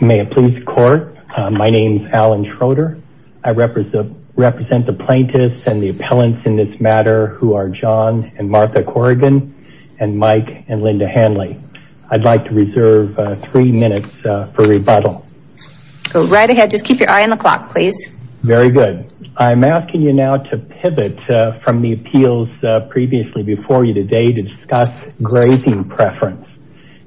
May it please the Court, my name is Alan Schroeder. I represent the plaintiffs and the appellants in this matter who are John and Martha Corrigan and Mike and Linda Hanley. I'd like to reserve three minutes for rebuttal. Go right ahead, just keep your eye on the clock please. Very good. I'm asking you now to pivot from the appeals previously before you today to discuss grazing preference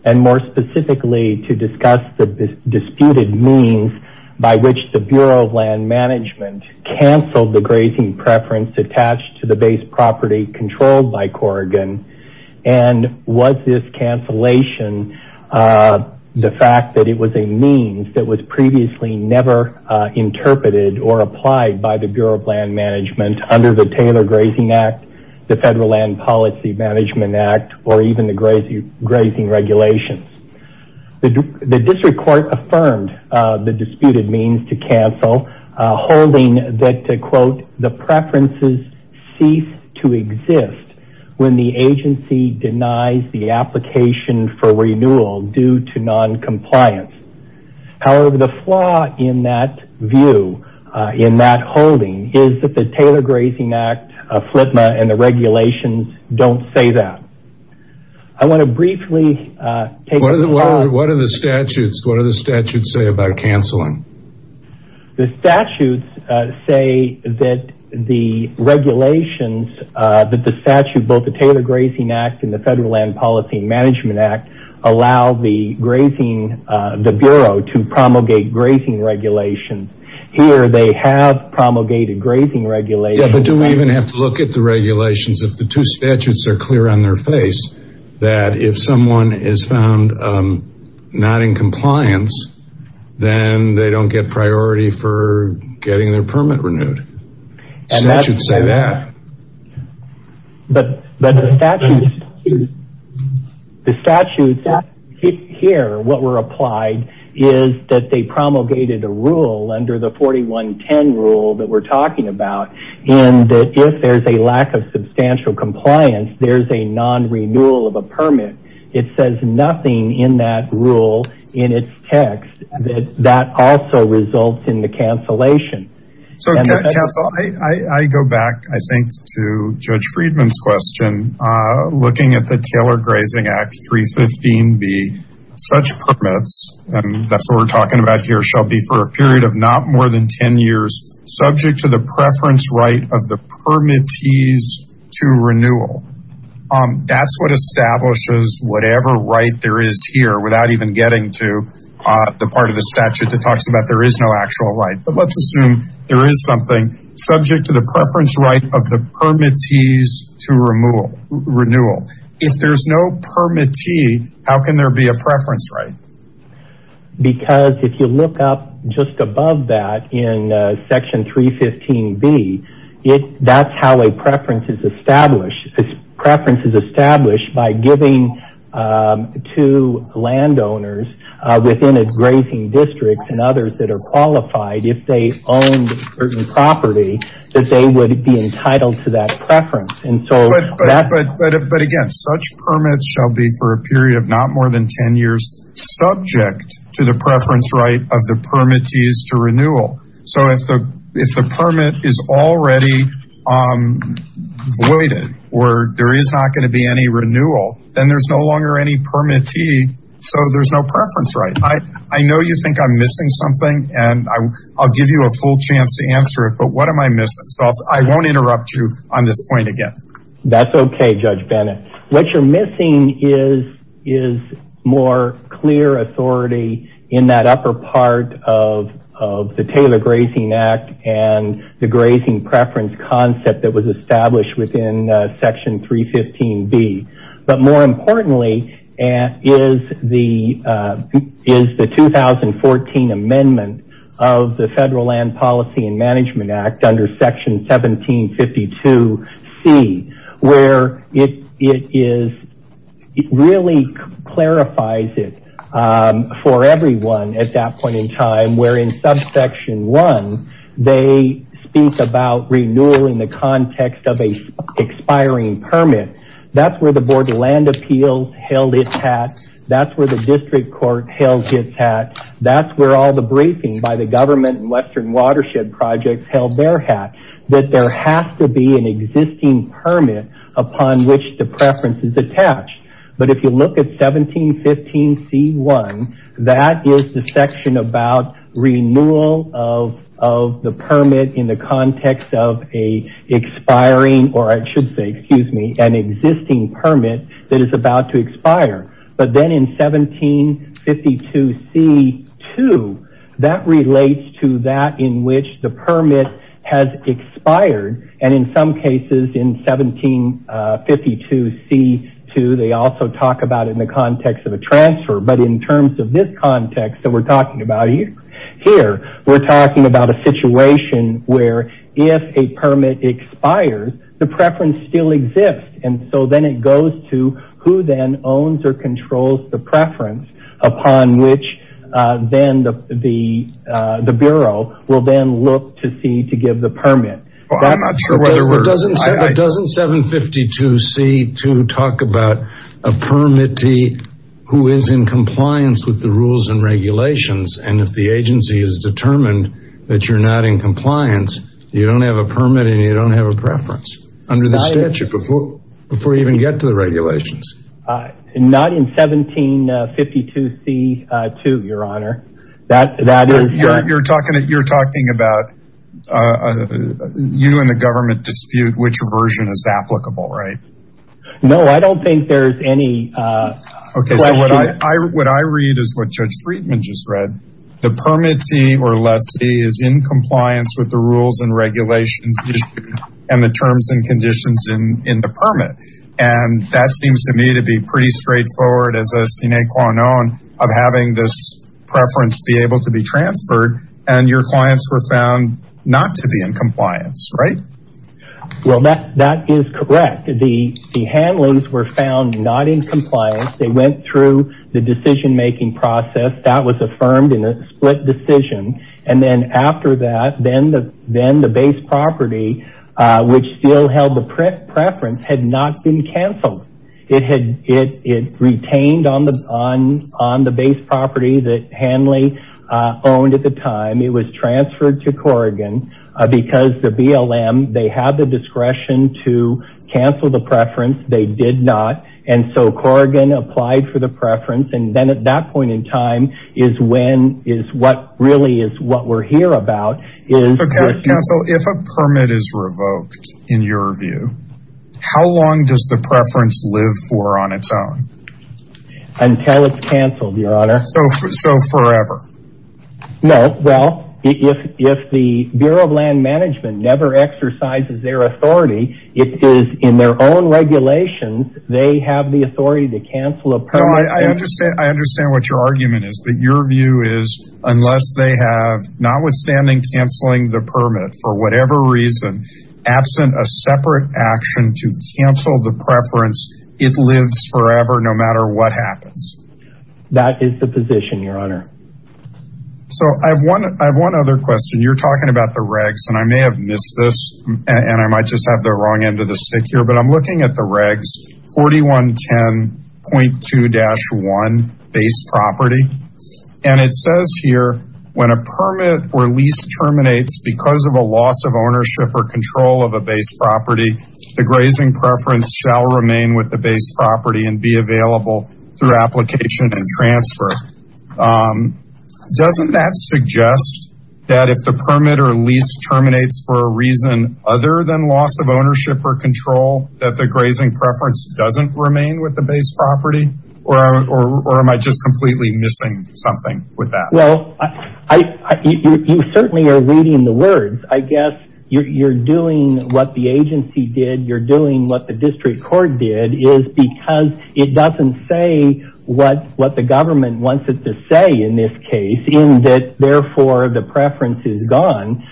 and more specifically to discuss the disputed means by which the Bureau of Land Management canceled the grazing preference attached to the base property controlled by Corrigan and was this cancellation the fact that it was a means that was previously never interpreted or applied by the Bureau of Land Management under the Taylor Grazing Act, the Federal Land Policy Management Act or even the grazing regulations. The district court affirmed the disputed means to cancel holding that to quote the preferences cease to exist when the agency denies the application for renewal due to noncompliance. However, the flaw in that view in that holding is that the Taylor Grazing Act and the regulations don't say that. I want to briefly take a look. What do the statutes say about canceling? The statutes say that the regulations that the statute both the Taylor Grazing Act and grazing regulations here they have promulgated grazing regulations. Do we even have to look at the regulations if the two statutes are clear on their face that if someone is found not in compliance then they don't get priority for getting their permit renewed? Statutes say that. But the statutes here what were applied is that they promulgated a rule under the 4110 rule that we're talking about and that if there's a lack of substantial compliance there's a non-renewal of a permit. It says nothing in that rule in its text that that also results in the cancellation. So I go back I think to Judge Friedman's question looking at the Taylor Grazing Act 315b such permits and that's what we're talking about here shall be for a period of not more than 10 years subject to the preference right of the permittees to renewal. That's what establishes whatever right there is here without even getting into the part of the statute that talks about there is no actual right. But let's assume there is something subject to the preference right of the permittees to renewal. If there's no permittee how can there be a preference right? Because if you look up just above that in section 315b that's how a preference is established. This preference is established by giving to landowners within a grazing district and others that are qualified if they own certain property that they would be entitled to that preference. But again such permits shall be for a period of not more than 10 years subject to the preference right of the permittees to if the permit is already voided or there is not going to be any renewal then there's no longer any permittee so there's no preference right. I know you think I'm missing something and I'll give you a full chance to answer it but what am I missing? So I won't interrupt you on this point again. That's okay Judge Bennett. What you're missing is more clear authority in that upper part of the Taylor Grazing Act and the grazing preference concept that was established within section 315b. But more importantly is the 2014 amendment of the Federal Land Policy Act under section 1752c where it really clarifies it for everyone at that point in time where in subsection 1 they speak about renewal in the context of an expiring permit. That's where the board of land appeals held its hat. That's where the district court held its hat. That's where all watershed projects held their hat. That there has to be an existing permit upon which the preference is attached. But if you look at 1715c1 that is the section about renewal of the permit in the context of a expiring or I should say an existing permit that is about to expire. But then in 1752c2 that relates to that in which the permit has expired and in some cases in 1752c2 they also talk about it in the context of a transfer. But in terms of this context that we're talking about here, we're talking about a situation where if a permit expires, the preference still upon which then the bureau will then look to see to give the permit. I'm not sure whether we're... Doesn't 752c2 talk about a permittee who is in compliance with the rules and regulations and if the agency is determined that you're not in compliance, you don't have a permit and you don't have a preference under the statute before you even get to the regulations. Not in 1752c2, your honor. You're talking about you and the government dispute which version is applicable, right? No, I don't think there's any... Okay, so what I read is what Judge Friedman just read. The permittee or lessee is in compliance with the rules and regulations and the terms and conditions in the permit. And that seems to me to be pretty straightforward as a sine qua non of having this preference be able to be transferred and your clients were found not to be in compliance, right? Well, that is correct. The handlings were found not in compliance. They went through the decision-making process that was affirmed in a split decision. And then after that, then the property which still held the preference had not been canceled. It retained on the base property that Hanley owned at the time. It was transferred to Corrigan because the BLM, they had the discretion to cancel the preference. They did not. And so Corrigan applied for the preference. And then at that point in time is when is what really is what we're here about. Counsel, if a permit is revoked in your view, how long does the preference live for on its own? Until it's canceled, Your Honor. So forever? No. Well, if the Bureau of Land Management never exercises their authority, it is in their own regulations. They have the authority to cancel a permit. I understand what your argument is, but your view is unless they have, notwithstanding canceling the permit for whatever reason, absent a separate action to cancel the preference, it lives forever no matter what happens. That is the position, Your Honor. So I have one other question. You're talking about the regs and I may have missed this and I might just have the wrong end of the stick here, but I'm looking at the regs, 4110.2-1, base property. And it says here, when a permit or lease terminates because of a loss of ownership or control of a base property, the grazing preference shall remain with the base property and be available through application and transfer. Doesn't that suggest that if the other than loss of ownership or control, that the grazing preference doesn't remain with the base property? Or am I just completely missing something with that? Well, you certainly are reading the words. I guess you're doing what the agency did. You're doing what the district court did is because it doesn't say what the government in this case, therefore the preference is gone,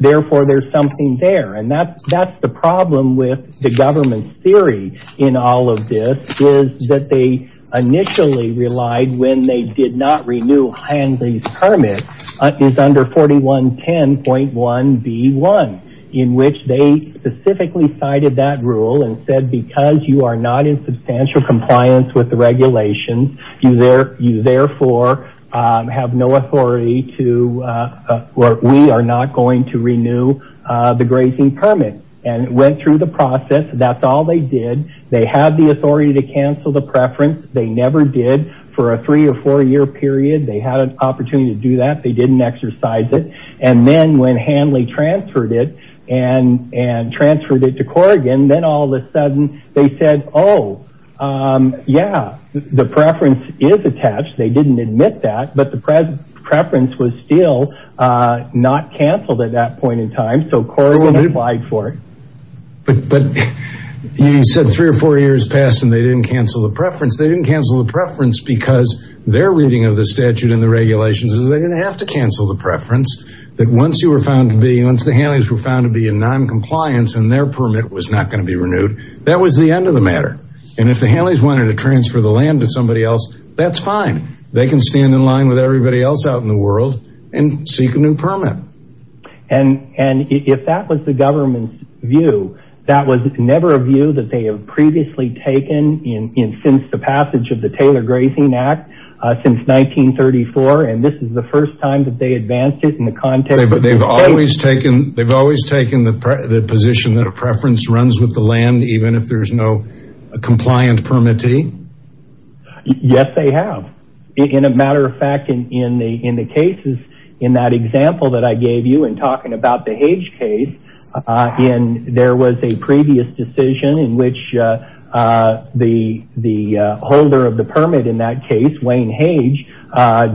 therefore there's something there. And that's the problem with the government's theory in all of this is that they initially relied when they did not renew Henry's permit is under 4110.1B1 in which they specifically cited that rule and said because you are not in substantial compliance with the regulations, you therefore have no authority to or we are not going to renew the grazing permit. And it went through the process. That's all they did. They had the authority to cancel the preference. They never did for a three or four year period. They had an opportunity to do that. They didn't exercise it. And then when Hanley transferred it and transferred it to Corrigan, then all of a sudden they said, oh, yeah, the preference is attached. They didn't admit that. But the preference was still not canceled at that point in time. So Corrigan applied for it. But you said three or four years passed and they didn't cancel the preference. They didn't cancel the preference because their reading of the statute and the regulations is they didn't have to cancel the preference. Once the Hanley's were found to be in noncompliance and their permit was not going to be renewed, that was the end of the matter. And if the Hanley's wanted to transfer the land to somebody else, that's fine. They can stand in line with everybody else out in the world and seek a new permit. And if that was the government's view, that was never a view that they have previously taken since the passage of the Taylor Grazing Act since 1934. And this is the first time that they advanced it in the context. They've always taken they've always taken the position that a preference runs with the land, even if there's no compliant permittee. Yes, they have. In a matter of fact, in the in the cases in that example that I gave you and talking about the H case in, there was a previous decision in which the holder of the permit in that case, Wayne Hage,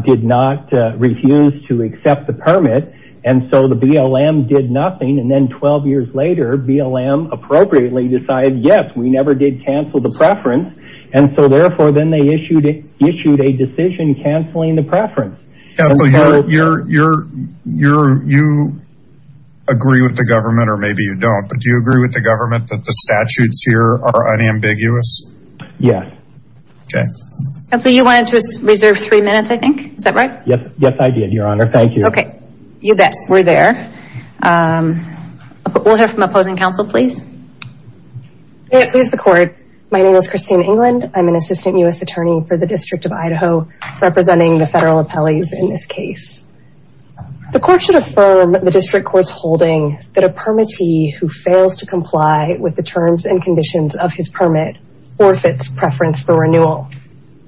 did not refuse to accept the permit. And so the BLM did nothing. And then 12 years later, BLM appropriately decided, yes, we never did cancel the preference. And so therefore, then they issued issued a decision canceling the preference. Counselor, you're you're you're you agree with the government or maybe you don't. But do you agree with the government that the statutes here are unambiguous? Yes. Okay. Counselor, you wanted to reserve three minutes, I think. Is that right? Yes. Yes, I did, Your Honor. Thank you. Okay. You bet. We're there. We'll hear from opposing counsel, please. May it please the court. My name is Christine England. I'm an assistant U.S. attorney for the District of Idaho, representing the federal appellees in this case. The court should affirm the district court's holding that a permittee who fails to comply with the terms and conditions of his permit forfeits preference for renewal.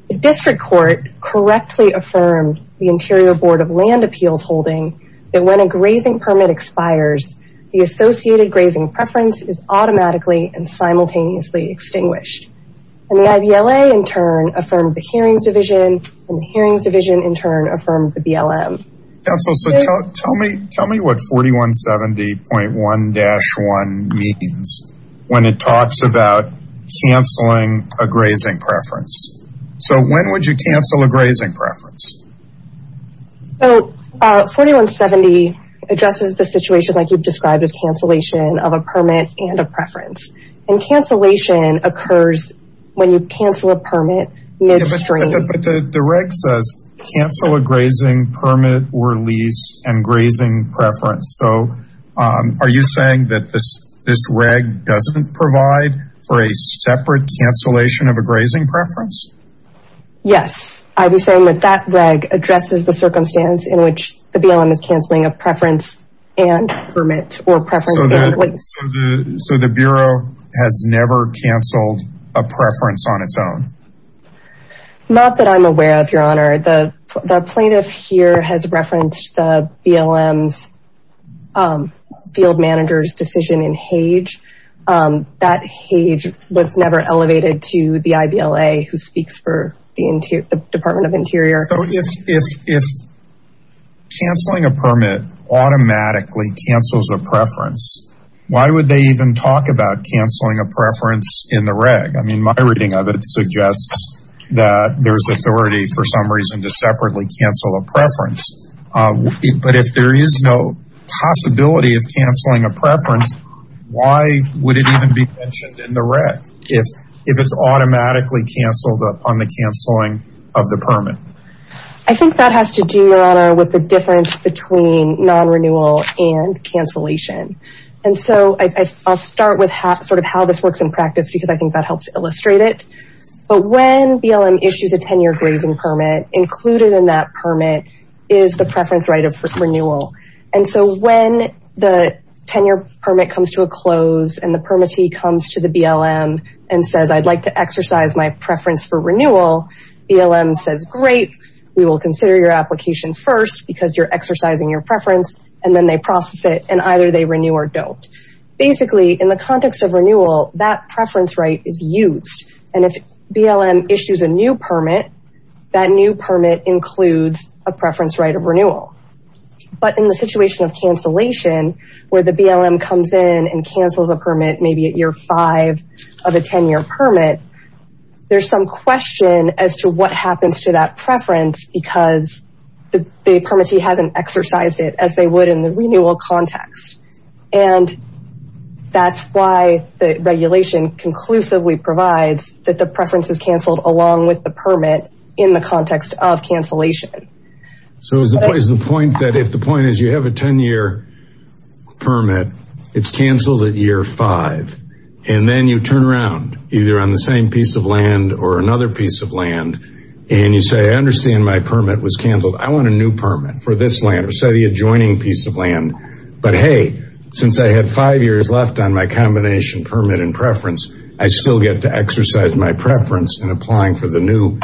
The district court correctly affirmed the Interior Board of Land Appeals holding that when a grazing permit expires, the associated grazing preference is automatically and simultaneously extinguished. And the I.B.L.A. in turn affirmed the hearings division and the hearings division in turn affirmed the B.L.M. Counselor, so tell me tell me what 4170.1-1 means when it talks about canceling a grazing preference. So when would you cancel a grazing preference? So 4170.1-1 addresses the situation like you've described, a cancellation of a permit and a preference. And cancellation occurs when you cancel a permit midstream. But the reg says cancel a grazing permit or lease and grazing preference. So are you saying that this this reg doesn't provide for a separate cancellation of a grazing preference? Yes, I was saying that that reg addresses the circumstance in which the B.L.M. is canceling a preference and permit or preference. So the Bureau has never canceled a preference on its own? Not that I'm aware of, your honor. The plaintiff here has referenced the B.L.M.'s decision in Hage. That Hage was never elevated to the I.B.L.A. who speaks for the Department of Interior. So if canceling a permit automatically cancels a preference, why would they even talk about canceling a preference in the reg? I mean, my reading of it suggests that there's authority for some reason to separately cancel a preference. But if there is no possibility of canceling a preference, why would it even be mentioned in the reg if it's automatically canceled on the canceling of the permit? I think that has to do, your honor, with the difference between non-renewal and cancellation. And so I'll start with sort of how this works in practice, because I think that helps illustrate it. But when B.L.M. issues a 10-year grazing permit, included in that permit is the preference right of renewal. And so when the 10-year permit comes to a close and the permittee comes to the B.L.M. and says, I'd like to exercise my preference for renewal, B.L.M. says, great, we will consider your application first because you're exercising your preference. And then they process it and either they renew or don't. Basically, in the context of renewal, that preference right is used. And if B.L.M. issues a new permit, that new permit includes a preference right of renewal. But in the situation of cancellation, where the B.L.M. comes in and cancels a permit, maybe at year five of a 10-year permit, there's some question as to what happens to that preference because the permittee hasn't exercised it as they would in the renewal context. And that's why the regulation conclusively provides that the preference is canceled along with the permit in the context of cancellation. So is the point that if the point is you have a 10-year permit, it's canceled at year five, and then you turn around either on the same piece of land or another piece of land and you say, I understand my permit was canceled. I want a new permit for this land or say the adjoining piece of land. But hey, since I had five years left on my combination permit and preference, I still get to exercise my preference in applying for the new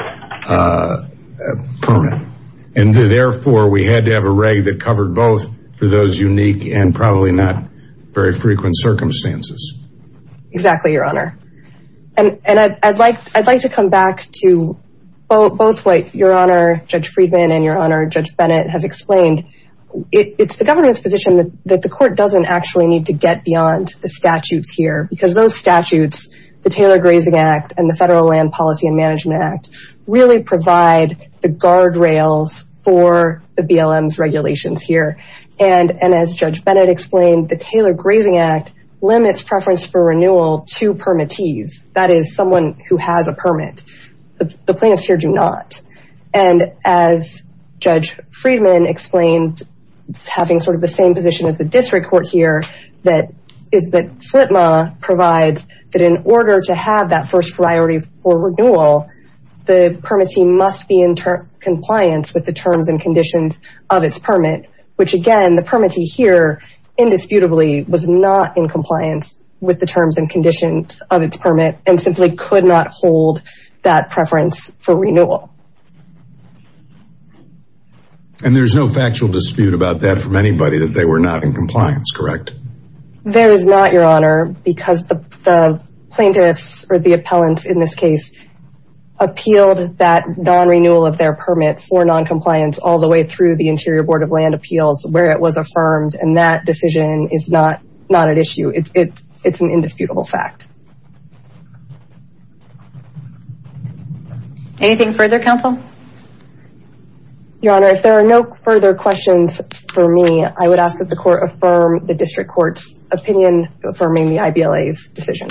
permit. And therefore, we had to have a reg that covered both for those unique and probably not very unique. And I think that goes back to both what your honor, Judge Friedman and your honor, Judge Bennett have explained. It's the government's position that the court doesn't actually need to get beyond the statutes here because those statutes, the Taylor Grazing Act and the Federal Land Policy and Management Act really provide the guardrails for the B.L.M.'s regulations here. And as Judge Bennett explained, the Taylor Grazing Act limits preference for renewal to permittees, that is someone who has a permit. The plaintiffs here do not. And as Judge Friedman explained, it's having sort of the same position as the district court here that is that FLTMA provides that in order to have that first priority for renewal, the permittee must be in compliance with the terms and conditions of its permit, which again, the permittee here indisputably was not in compliance with the terms and conditions of its permit and simply could not hold that preference for renewal. And there's no factual dispute about that from anybody that they were not in compliance, correct? There is not, your honor, because the plaintiffs or the appellants in this case appealed that non-renewal of their permit for non-compliance all the way through the Interior Board of Land It's an indisputable fact. Anything further, counsel? Your honor, if there are no further questions for me, I would ask that the court affirm the district court's opinion affirming the IBLA's decision.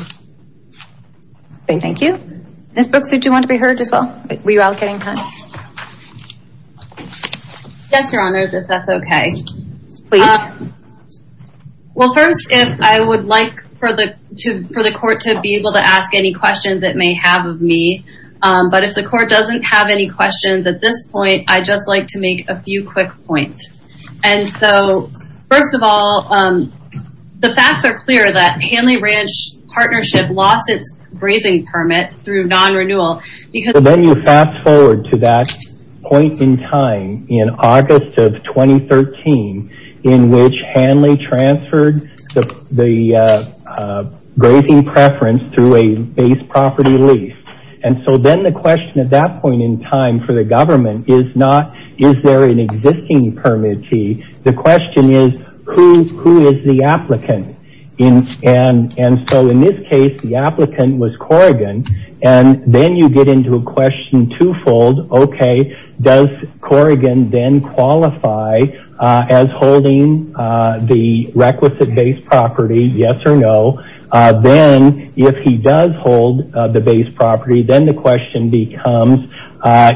Thank you. Ms. Brooks, did you want to be heard as well? Were you all getting time? Yes, your honor, if that's okay. Please. Well, first, if I would like for the court to be able to ask any questions it may have of me, but if the court doesn't have any questions at this point, I'd just like to make a few quick points. And so, first of all, the facts are clear that Hanley point in time in August of 2013 in which Hanley transferred the grazing preference through a base property lease. And so, then the question at that point in time for the government is not is there an existing permittee? The question is who is the applicant? And so, in this case, the applicant was Corrigan. And then you get into a question twofold, okay, does Corrigan then qualify as holding the requisite base property, yes or no? Then if he does hold the base property, then the question becomes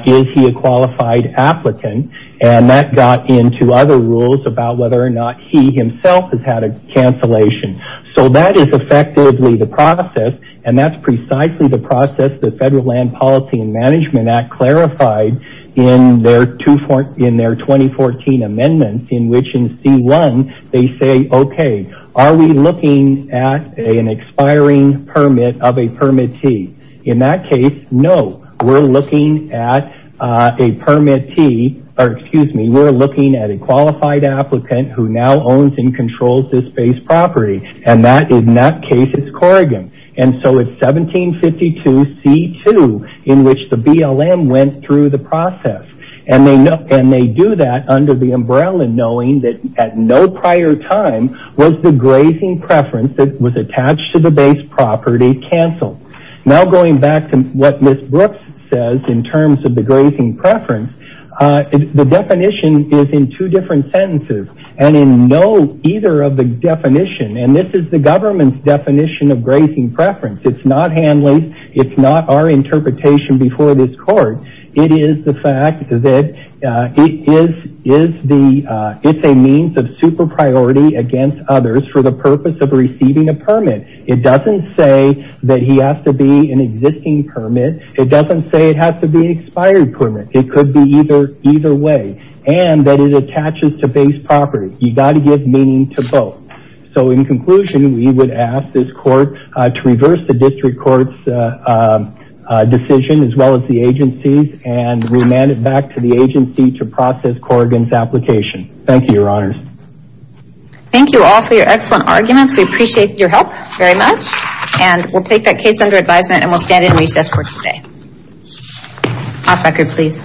is he a qualified applicant? And that got into other cancellations. So, that is effectively the process and that's precisely the process the federal land policy and management act clarified in their 2014 amendments in which in C1 they say, okay, are we looking at an expiring permit of a permittee? In that case, no. We're looking at a qualified applicant who now owns and controls this base property and in that case it's Corrigan. And so, it's 1752 C2 in which the BLM went through the process. And they do that under the umbrella knowing that at no prior time was the grazing preference that was attached to the base preference. The definition is in two different sentences. And in no, either of the definitions, and this is the government's definition of grazing preference. It's not handling, it's not our interpretation before this court. It is the fact that it is a means of super priority against others for the purpose of receiving a permit. It doesn't say that he has to be an expired permit. It could be either way. And that it attaches to base property. You've got to give meaning to both. So, in conclusion, we would ask this court to reverse the district court's decision as well as the agency's and remand it back to the agency to process Corrigan's application. Thank you, your honors. Thank you all for your excellent arguments. We appreciate your help very much. And we'll take that case under advisement and we'll stand in recess for today. Off record, please.